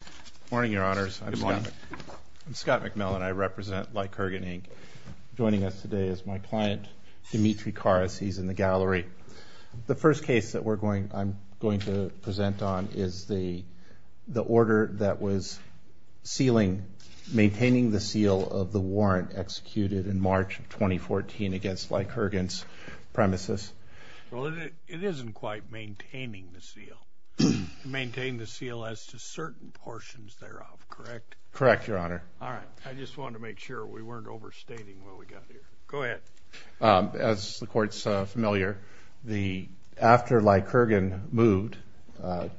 Good morning, Your Honors. I'm Scott McMillan. I represent Lycurgan, Inc. Joining us today is my client, Dimitri Karas. He's in the gallery. The first case that I'm going to present on is the order that was sealing, maintaining the seal of the warrant executed in March of 2014 against Lycurgan's premises. Well, it isn't quite maintaining the seal. Maintain the seal as to certain portions thereof, correct? Correct, Your Honor. All right. I just wanted to make sure we weren't overstating what we got here. Go ahead. As the Court's familiar, after Lycurgan moved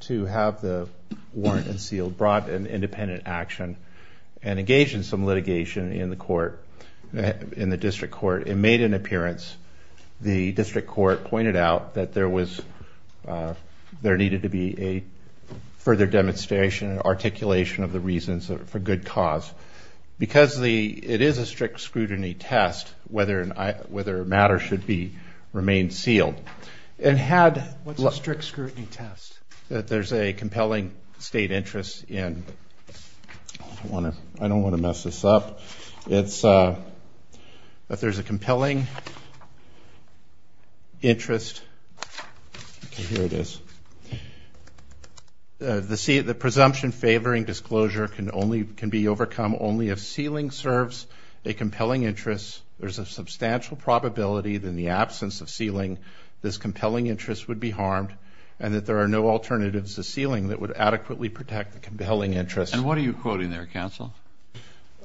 to have the warrant unsealed, brought an independent action, and engaged in some litigation in the District Court, and made an appearance, the District Court pointed out that there needed to be a further demonstration and articulation of the reasons for good cause. Because it is a strict scrutiny test whether a matter should remain sealed. What's a strict scrutiny test? That there's a compelling state interest in – I don't want to mess this up. It's that there's a compelling interest – okay, here it is. The presumption favoring disclosure can be overcome only if sealing serves a compelling interest. There's a substantial probability that in the absence of sealing, this compelling interest would be harmed, and that there are no alternatives to sealing that would adequately protect the compelling interest. And what are you quoting there, counsel?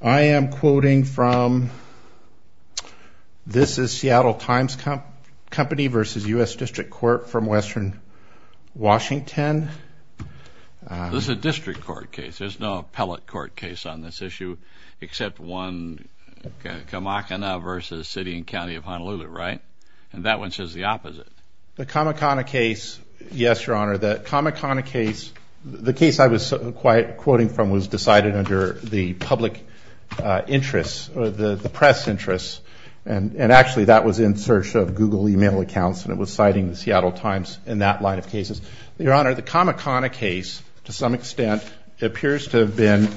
I am quoting from – this is Seattle Times Company versus U.S. District Court from Western Washington. This is a District Court case. There's no appellate court case on this issue, except one – Kamakana versus City and County of Honolulu, right? And that one says the opposite. The Kamakana case – yes, Your Honor, the Kamakana case – the case I was quoting from was decided under the public interest, the press interest, and actually that was in search of Google email accounts, and it was citing the Seattle Times in that line of cases. Your Honor, the Kamakana case, to some extent, appears to have been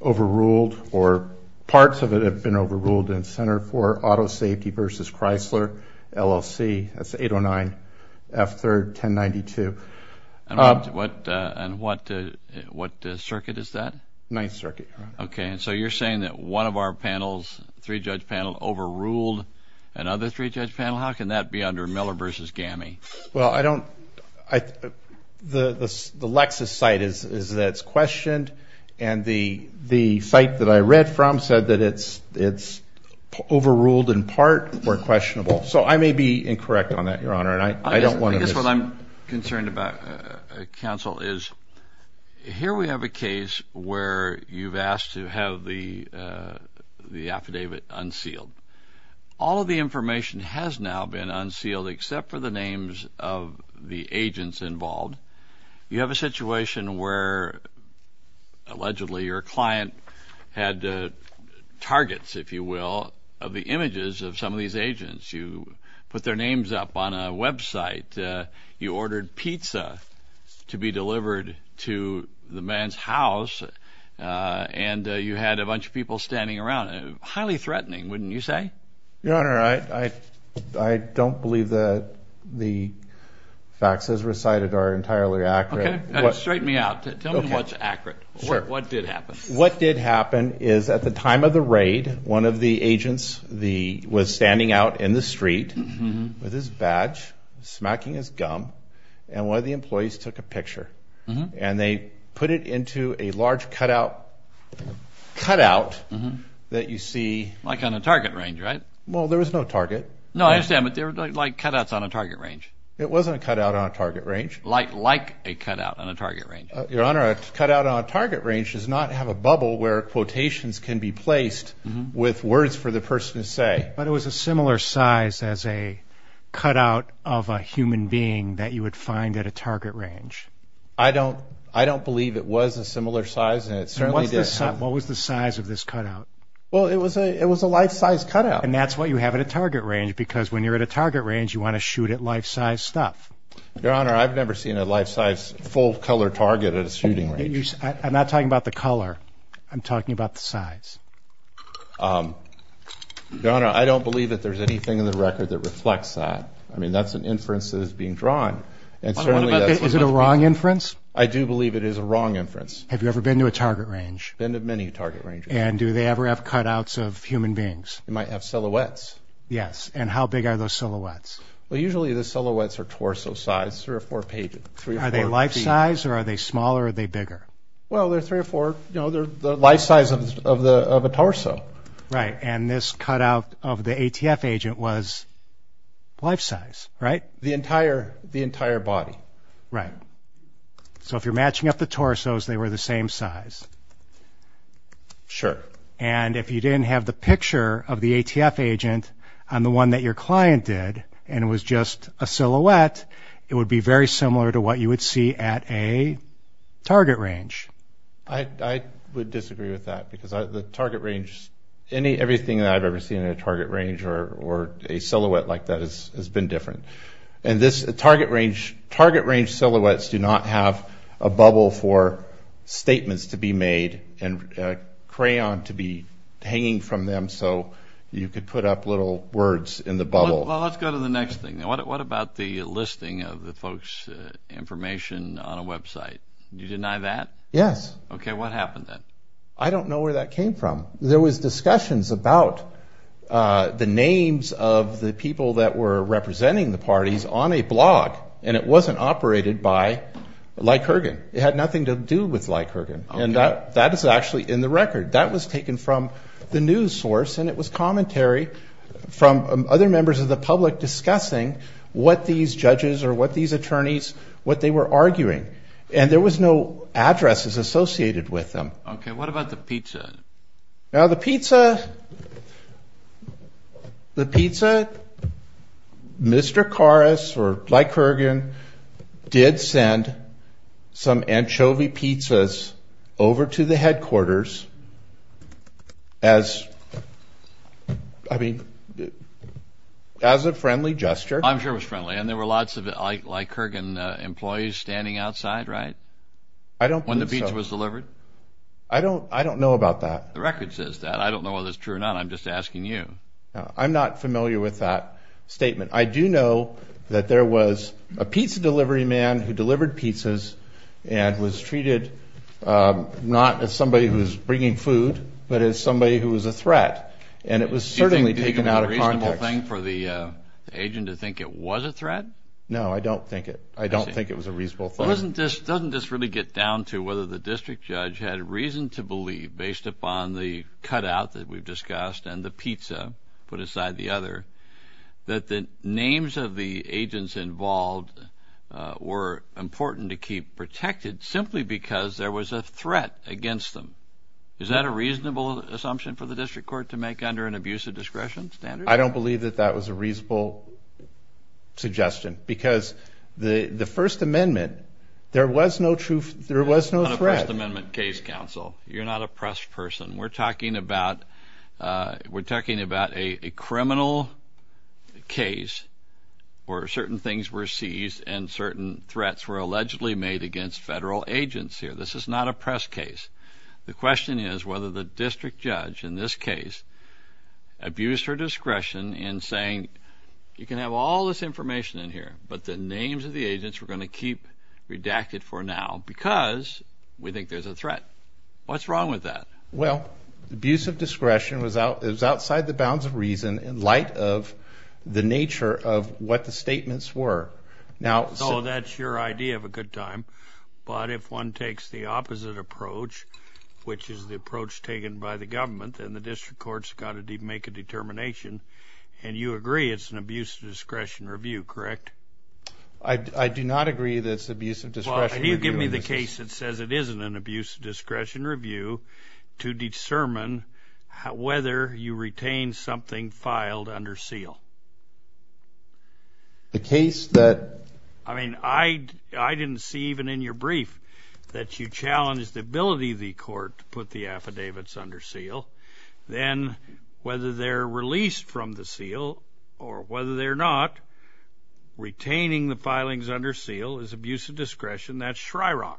overruled, or parts of it have been overruled in Center 4, Auto Safety versus Chrysler, LLC. That's 809 F3rd 1092. And what circuit is that? Ninth Circuit, Your Honor. Okay, and so you're saying that one of our panels, three-judge panel, overruled another three-judge panel? How can that be under Miller versus GAMI? Well, I don't – the Lexis site is that it's questioned, and the site that I read from said that it's overruled in part or questionable. So I may be incorrect on that, Your Honor, and I don't want to – I guess what I'm concerned about, counsel, is here we have a case where you've asked to have the affidavit unsealed. All of the information has now been unsealed except for the names of the agents involved. You have a situation where allegedly your client had targets, if you will, of the images of some of these agents. You put their names up on a website. You ordered pizza to be delivered to the man's house, and you had a bunch of people standing around. Highly threatening, wouldn't you say? Your Honor, I don't believe that the facts as recited are entirely accurate. Okay, straighten me out. Tell me what's accurate. Sure. What did happen? What did happen is at the time of the raid, one of the agents was standing out in the street with his badge, smacking his gum, and one of the employees took a picture, and they put it into a large cutout that you see. Like on a target range, right? Well, there was no target. No, I understand, but they were like cutouts on a target range. It wasn't a cutout on a target range. Like a cutout on a target range. Your Honor, a cutout on a target range does not have a bubble where quotations can be placed with words for the person to say. But it was a similar size as a cutout of a human being that you would find at a target range. I don't believe it was a similar size, and it certainly didn't. What was the size of this cutout? Well, it was a life-size cutout. And that's what you have at a target range, because when you're at a target range, you want to shoot at life-size stuff. Your Honor, I've never seen a life-size full-color target at a shooting range. I'm not talking about the color. I'm talking about the size. Your Honor, I don't believe that there's anything in the record that reflects that. I mean, that's an inference that is being drawn. Is it a wrong inference? I do believe it is a wrong inference. Have you ever been to a target range? Been to many target ranges. And do they ever have cutouts of human beings? They might have silhouettes. Yes, and how big are those silhouettes? Well, usually the silhouettes are torso-size, three or four pages. Are they life-size, or are they smaller, or are they bigger? Well, they're three or four. You know, they're the life-size of a torso. Right, and this cutout of the ATF agent was life-size, right? The entire body. Right. So if you're matching up the torsos, they were the same size. Sure. And if you didn't have the picture of the ATF agent on the one that your client did, and it was just a silhouette, it would be very similar to what you would see at a target range. I would disagree with that because the target range, everything that I've ever seen in a target range or a silhouette like that has been different. And this target range silhouettes do not have a bubble for statements to be made and a crayon to be hanging from them so you could put up little words in the bubble. Well, let's go to the next thing. What about the listing of the folks' information on a website? Did you deny that? Yes. Okay, what happened then? I don't know where that came from. There was discussions about the names of the people that were representing the parties on a blog, and it wasn't operated by Likergan. It had nothing to do with Likergan, and that is actually in the record. That was taken from the news source, and it was commentary from other members of the public discussing what these judges or what these attorneys, what they were arguing. And there was no addresses associated with them. Okay, what about the pizza? Now, the pizza, Mr. Karas or Likergan did send some anchovy pizzas over to the headquarters as a friendly gesture. I'm sure it was friendly, and there were lots of Likergan employees standing outside, right? I don't believe so. When the pizza was delivered? I don't know about that. The record says that. I don't know whether it's true or not. I'm just asking you. I'm not familiar with that statement. I do know that there was a pizza delivery man who delivered pizzas and was treated not as somebody who was bringing food but as somebody who was a threat, and it was certainly taken out of context. Do you think it was a reasonable thing for the agent to think it was a threat? No, I don't think it. I don't think it was a reasonable thing. It doesn't just really get down to whether the district judge had reason to believe, based upon the cutout that we've discussed and the pizza put aside the other, that the names of the agents involved were important to keep protected simply because there was a threat against them. Is that a reasonable assumption for the district court to make under an abuse of discretion standard? I don't believe that that was a reasonable suggestion because the First Amendment, there was no threat. On a First Amendment case, counsel, you're not a press person. We're talking about a criminal case where certain things were seized and certain threats were allegedly made against federal agents here. This is not a press case. The question is whether the district judge in this case abused her discretion in saying, you can have all this information in here, but the names of the agents we're going to keep redacted for now because we think there's a threat. What's wrong with that? Well, abuse of discretion was outside the bounds of reason in light of the nature of what the statements were. So that's your idea of a good time, but if one takes the opposite approach, which is the approach taken by the government, and the district court's got to make a determination, and you agree it's an abuse of discretion review, correct? I do not agree that it's abuse of discretion review. Well, can you give me the case that says it isn't an abuse of discretion review to discern whether you retained something filed under seal? The case that – I mean, I didn't see even in your brief that you challenged the ability of the court to put the affidavits under seal. Then whether they're released from the seal or whether they're not, retaining the filings under seal is abuse of discretion. That's Shryrock.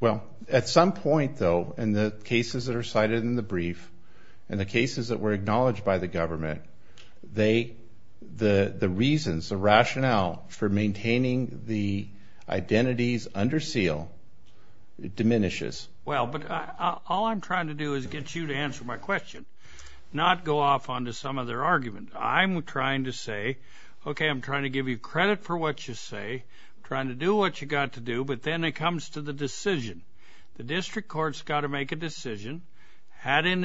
Well, at some point, though, in the cases that are cited in the brief and the cases that were acknowledged by the government, the reasons, the rationale for maintaining the identities under seal diminishes. Well, but all I'm trying to do is get you to answer my question, not go off onto some other argument. I'm trying to say, okay, I'm trying to give you credit for what you say. I'm trying to do what you got to do, but then it comes to the decision. The district court's got to make a decision. Had in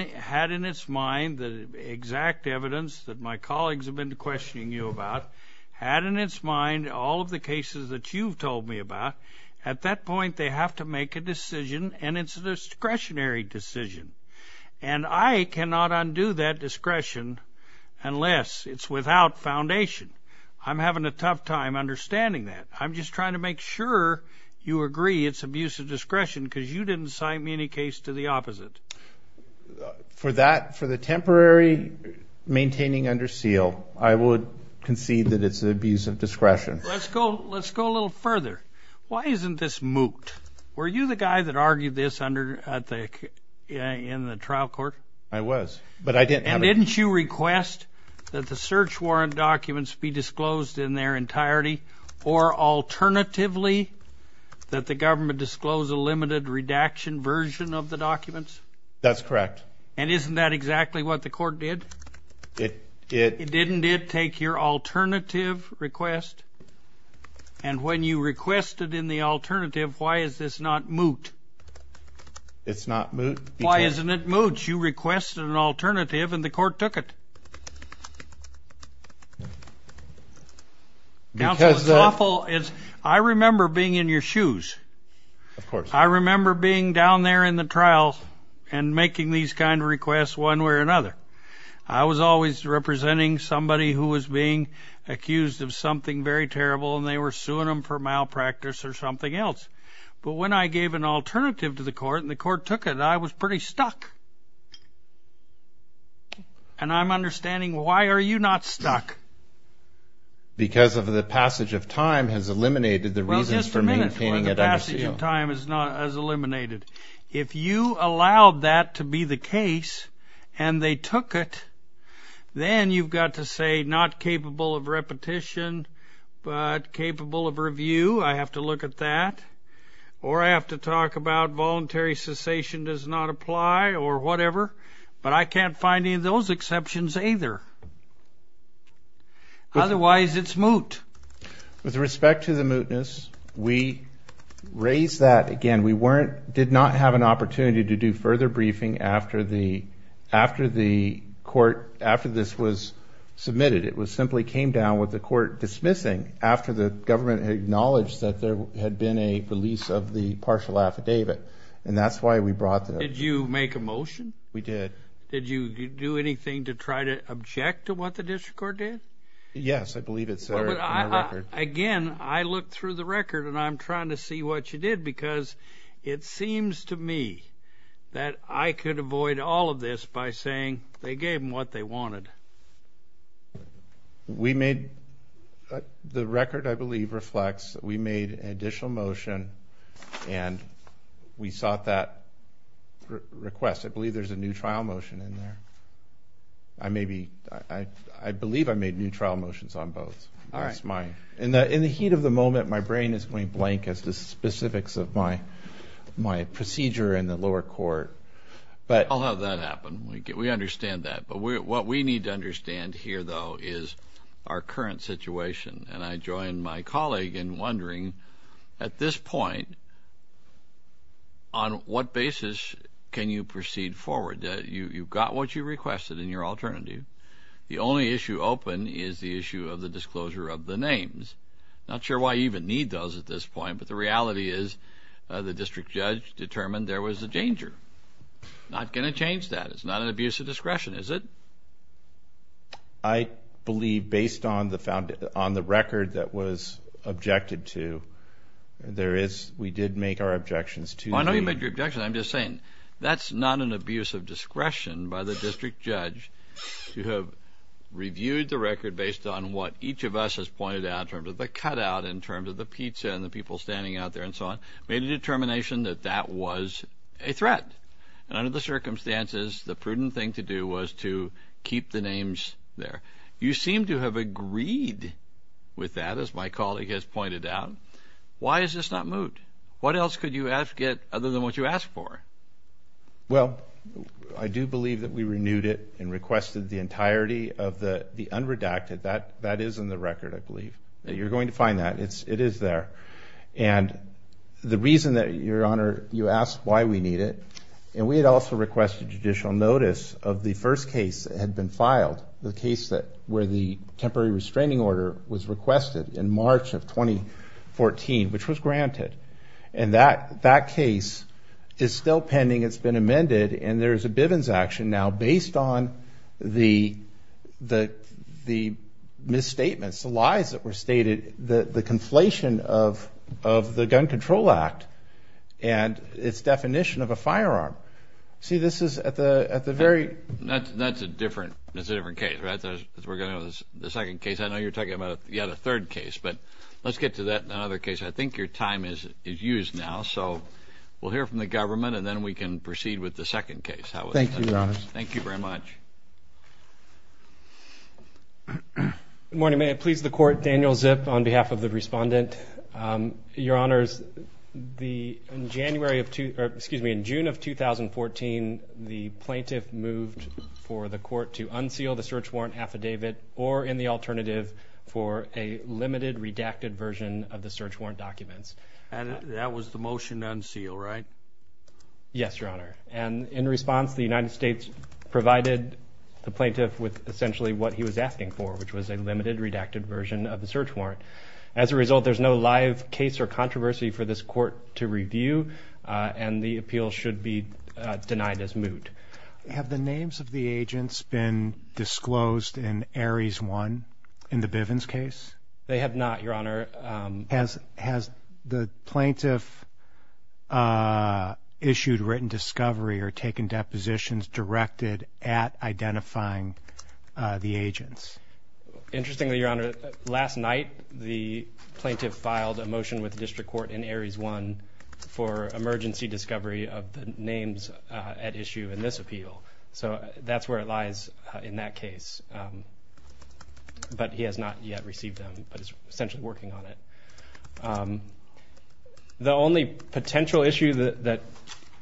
its mind the exact evidence that my colleagues have been questioning you about, had in its mind all of the cases that you've told me about, at that point they have to make a decision, and it's a discretionary decision. And I cannot undo that discretion unless it's without foundation. I'm having a tough time understanding that. I'm just trying to make sure you agree it's abuse of discretion because you didn't cite me any case to the opposite. For the temporary maintaining under seal, I would concede that it's abuse of discretion. Let's go a little further. Why isn't this moot? Were you the guy that argued this in the trial court? I was. And didn't you request that the search warrant documents be disclosed in their entirety or alternatively that the government disclose a limited redaction version of the documents? That's correct. And isn't that exactly what the court did? It didn't take your alternative request. And when you requested in the alternative, why is this not moot? Why isn't it moot? Once you requested an alternative and the court took it. Counsel, it's awful. I remember being in your shoes. Of course. I remember being down there in the trial and making these kind of requests one way or another. I was always representing somebody who was being accused of something very terrible, and they were suing them for malpractice or something else. But when I gave an alternative to the court and the court took it, I was pretty stuck. And I'm understanding why are you not stuck? Because of the passage of time has eliminated the reasons for maintaining it under seal. Well, just a minute. Why the passage of time is not as eliminated. If you allowed that to be the case and they took it, then you've got to say not capable of repetition but capable of review. I have to look at that. Or I have to talk about voluntary cessation does not apply or whatever. But I can't find any of those exceptions either. Otherwise, it's moot. With respect to the mootness, we raised that again. We did not have an opportunity to do further briefing after the court, after this was submitted. It simply came down with the court dismissing after the government acknowledged that there had been a release of the partial affidavit. And that's why we brought that up. Did you make a motion? We did. Did you do anything to try to object to what the district court did? Yes, I believe it's there in the record. Again, I looked through the record, and I'm trying to see what you did because it seems to me that I could avoid all of this by saying they gave them what they wanted. The record, I believe, reflects that we made an additional motion, and we sought that request. I believe there's a new trial motion in there. I believe I made new trial motions on both. In the heat of the moment, my brain is going blank as to specifics of my procedure in the lower court. I'll have that happen. We understand that. But what we need to understand here, though, is our current situation. And I join my colleague in wondering, at this point, on what basis can you proceed forward? You've got what you requested in your alternative. The only issue open is the issue of the disclosure of the names. Not sure why you even need those at this point, but the reality is the district judge determined there was a danger. Not going to change that. It's not an abuse of discretion, is it? I believe, based on the record that was objected to, there is we did make our objections to the- I know you made your objections. I'm just saying that's not an abuse of discretion by the district judge to have reviewed the record based on what each of us has pointed out, in terms of the cutout, in terms of the pizza and the people standing out there and so on, made a determination that that was a threat. And under the circumstances, the prudent thing to do was to keep the names there. You seem to have agreed with that, as my colleague has pointed out. Why is this not moved? What else could you get other than what you asked for? Well, I do believe that we renewed it and requested the entirety of the unredacted. That is in the record, I believe. You're going to find that. It is there. And the reason that, Your Honor, you asked why we need it, and we had also requested judicial notice of the first case that had been filed, the case where the temporary restraining order was requested in March of 2014, which was granted. And that case is still pending. It's been amended. And there is a Bivens action now based on the misstatements, the lies that were stated, the conflation of the Gun Control Act and its definition of a firearm. See, this is at the very- That's a different case, right? We're going to go to the second case. I know you're talking about, yeah, the third case. But let's get to that in another case. I think your time is used now. So we'll hear from the government, and then we can proceed with the second case. Thank you, Your Honor. Thank you very much. Good morning. May it please the Court, Daniel Zip on behalf of the Respondent. Your Honors, in June of 2014, the plaintiff moved for the Court to unseal the search warrant affidavit or, in the alternative, for a limited redacted version of the search warrant documents. And that was the motion to unseal, right? Yes, Your Honor. And in response, the United States provided the plaintiff with essentially what he was asking for, which was a limited redacted version of the search warrant. As a result, there's no live case or controversy for this Court to review, and the appeal should be denied as moot. Have the names of the agents been disclosed in Ares 1 in the Bivens case? They have not, Your Honor. Has the plaintiff issued written discovery or taken depositions directed at identifying the agents? Interestingly, Your Honor, last night the plaintiff filed a motion with the District Court in Ares 1 for emergency discovery of the names at issue in this appeal. So that's where it lies in that case. But he has not yet received them, but is essentially working on it. The only potential issue that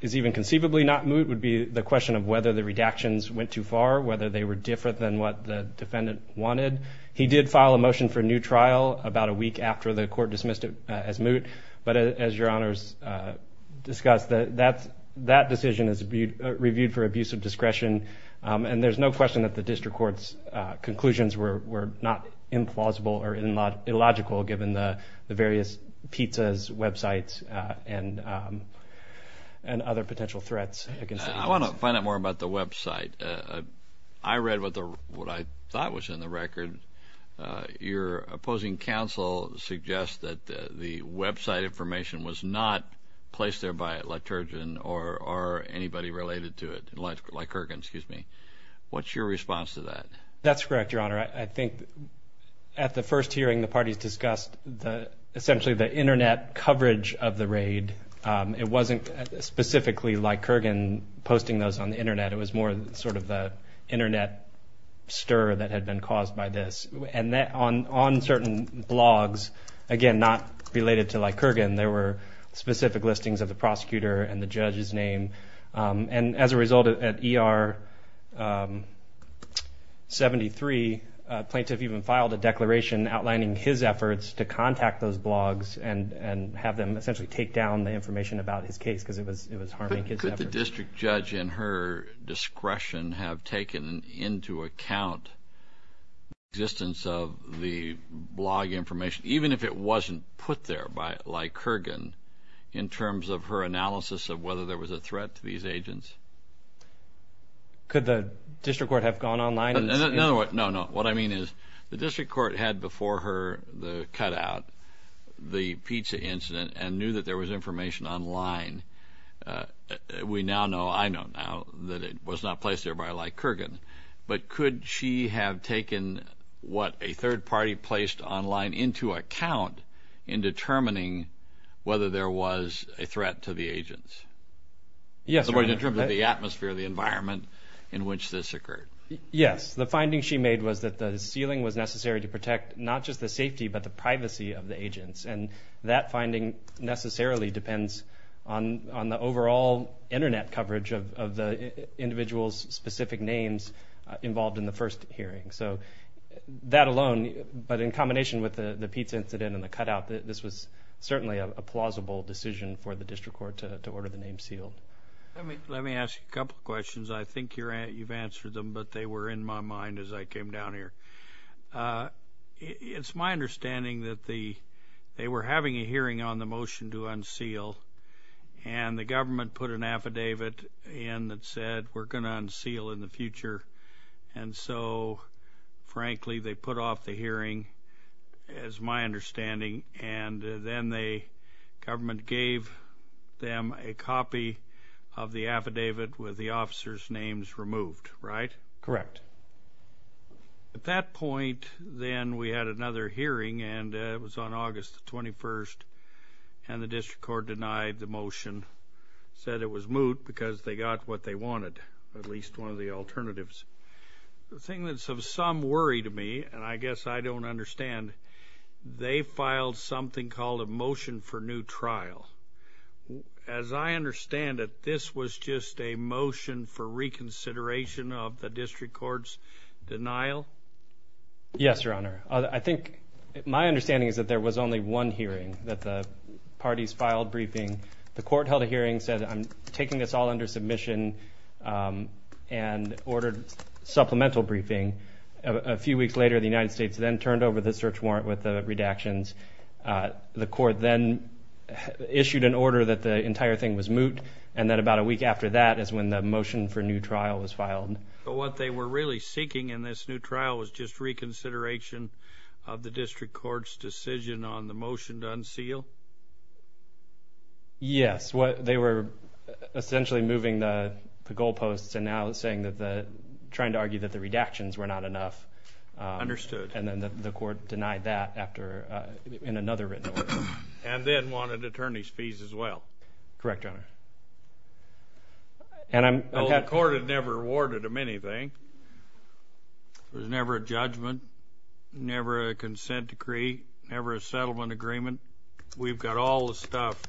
is even conceivably not moot would be the question of whether the redactions went too far, whether they were different than what the defendant wanted. He did file a motion for a new trial about a week after the Court dismissed it as moot. But as Your Honors discussed, that decision is reviewed for abuse of discretion, and there's no question that the District Court's conclusions were not implausible or illogical, given the various pizza websites and other potential threats against the agents. I want to find out more about the website. I read what I thought was in the record. Your opposing counsel suggests that the website information was not placed there by a leturgian or anybody related to it, like Kurgan, excuse me. What's your response to that? That's correct, Your Honor. I think at the first hearing the parties discussed essentially the Internet coverage of the raid. It wasn't specifically like Kurgan posting those on the Internet. It was more sort of the Internet stir that had been caused by this. And on certain blogs, again, not related to like Kurgan, there were specific listings of the prosecutor and the judge's name. And as a result, at ER 73, a plaintiff even filed a declaration outlining his efforts to contact those blogs and have them essentially take down the information about his case because it was harming his efforts. Could the District Judge in her discretion have taken into account the existence of the blog information, even if it wasn't put there by like Kurgan, in terms of her analysis of whether there was a threat to these agents? Could the District Court have gone online? No, no. What I mean is the District Court had before her the cutout, the pizza incident, and knew that there was information online. We now know, I know now, that it was not placed there by like Kurgan. But could she have taken what a third party placed online into account in determining whether there was a threat to the agents? Yes, Your Honor. In terms of the atmosphere, the environment in which this occurred. Yes. The finding she made was that the sealing was necessary to protect not just the safety but the privacy of the agents. And that finding necessarily depends on the overall Internet coverage of the individual's specific names involved in the first hearing. So that alone, but in combination with the pizza incident and the cutout, this was certainly a plausible decision for the District Court to order the name sealed. Let me ask you a couple of questions. I think you've answered them, but they were in my mind as I came down here. It's my understanding that they were having a hearing on the motion to unseal, and the government put an affidavit in that said we're going to unseal in the future. And so, frankly, they put off the hearing, is my understanding. And then the government gave them a copy of the affidavit with the officers' names removed, right? Correct. At that point, then, we had another hearing, and it was on August 21st, and the District Court denied the motion, said it was moot because they got what they wanted, at least one of the alternatives. The thing that some worry to me, and I guess I don't understand, they filed something called a motion for new trial. As I understand it, this was just a motion for reconsideration of the District Court's denial? Yes, Your Honor. I think my understanding is that there was only one hearing that the parties filed briefing. The court held a hearing, said I'm taking this all under submission, and ordered supplemental briefing. A few weeks later, the United States then turned over the search warrant with the redactions. The court then issued an order that the entire thing was moot, and then about a week after that is when the motion for new trial was filed. But what they were really seeking in this new trial was just reconsideration of the District Court's decision on the motion to unseal? Yes. They were essentially moving the goalposts and now trying to argue that the redactions were not enough. Understood. And then the court denied that in another written order. And then wanted attorney's fees as well. Correct, Your Honor. The court had never awarded them anything. There was never a judgment, never a consent decree, never a settlement agreement. We've got all the stuff,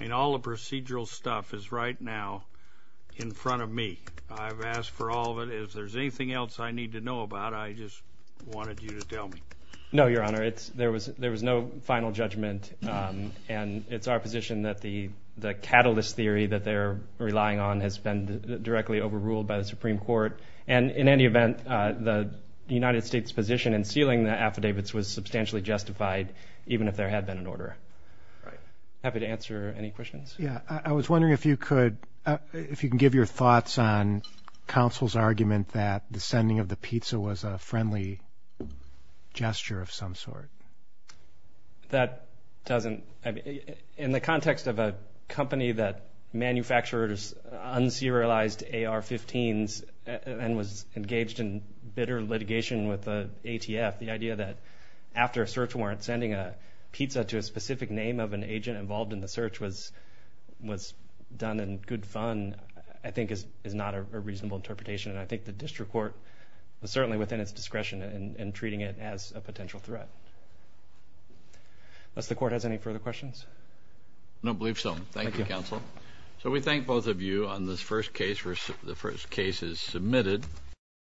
and all the procedural stuff is right now in front of me. I've asked for all of it. If there's anything else I need to know about, I just wanted you to tell me. No, Your Honor. There was no final judgment, and it's our position that the catalyst theory that they're relying on has been directly overruled by the Supreme Court. And in any event, the United States' position in sealing the affidavits was substantially justified, even if there had been an order. Happy to answer any questions. I was wondering if you could give your thoughts on counsel's argument that the sending of the pizza was a friendly gesture of some sort. That doesn't... In the context of a company that manufactures un-serialized AR-15s and was engaged in bitter litigation with the ATF, the idea that after a search warrant, sending a pizza to a specific name of an agent involved in the search was done in good fun, I think is not a reasonable interpretation. And I think the district court was certainly within its discretion in treating it as a potential threat. Unless the court has any further questions. I don't believe so. Thank you, counsel. So we thank both of you on this first case. The first case is submitted.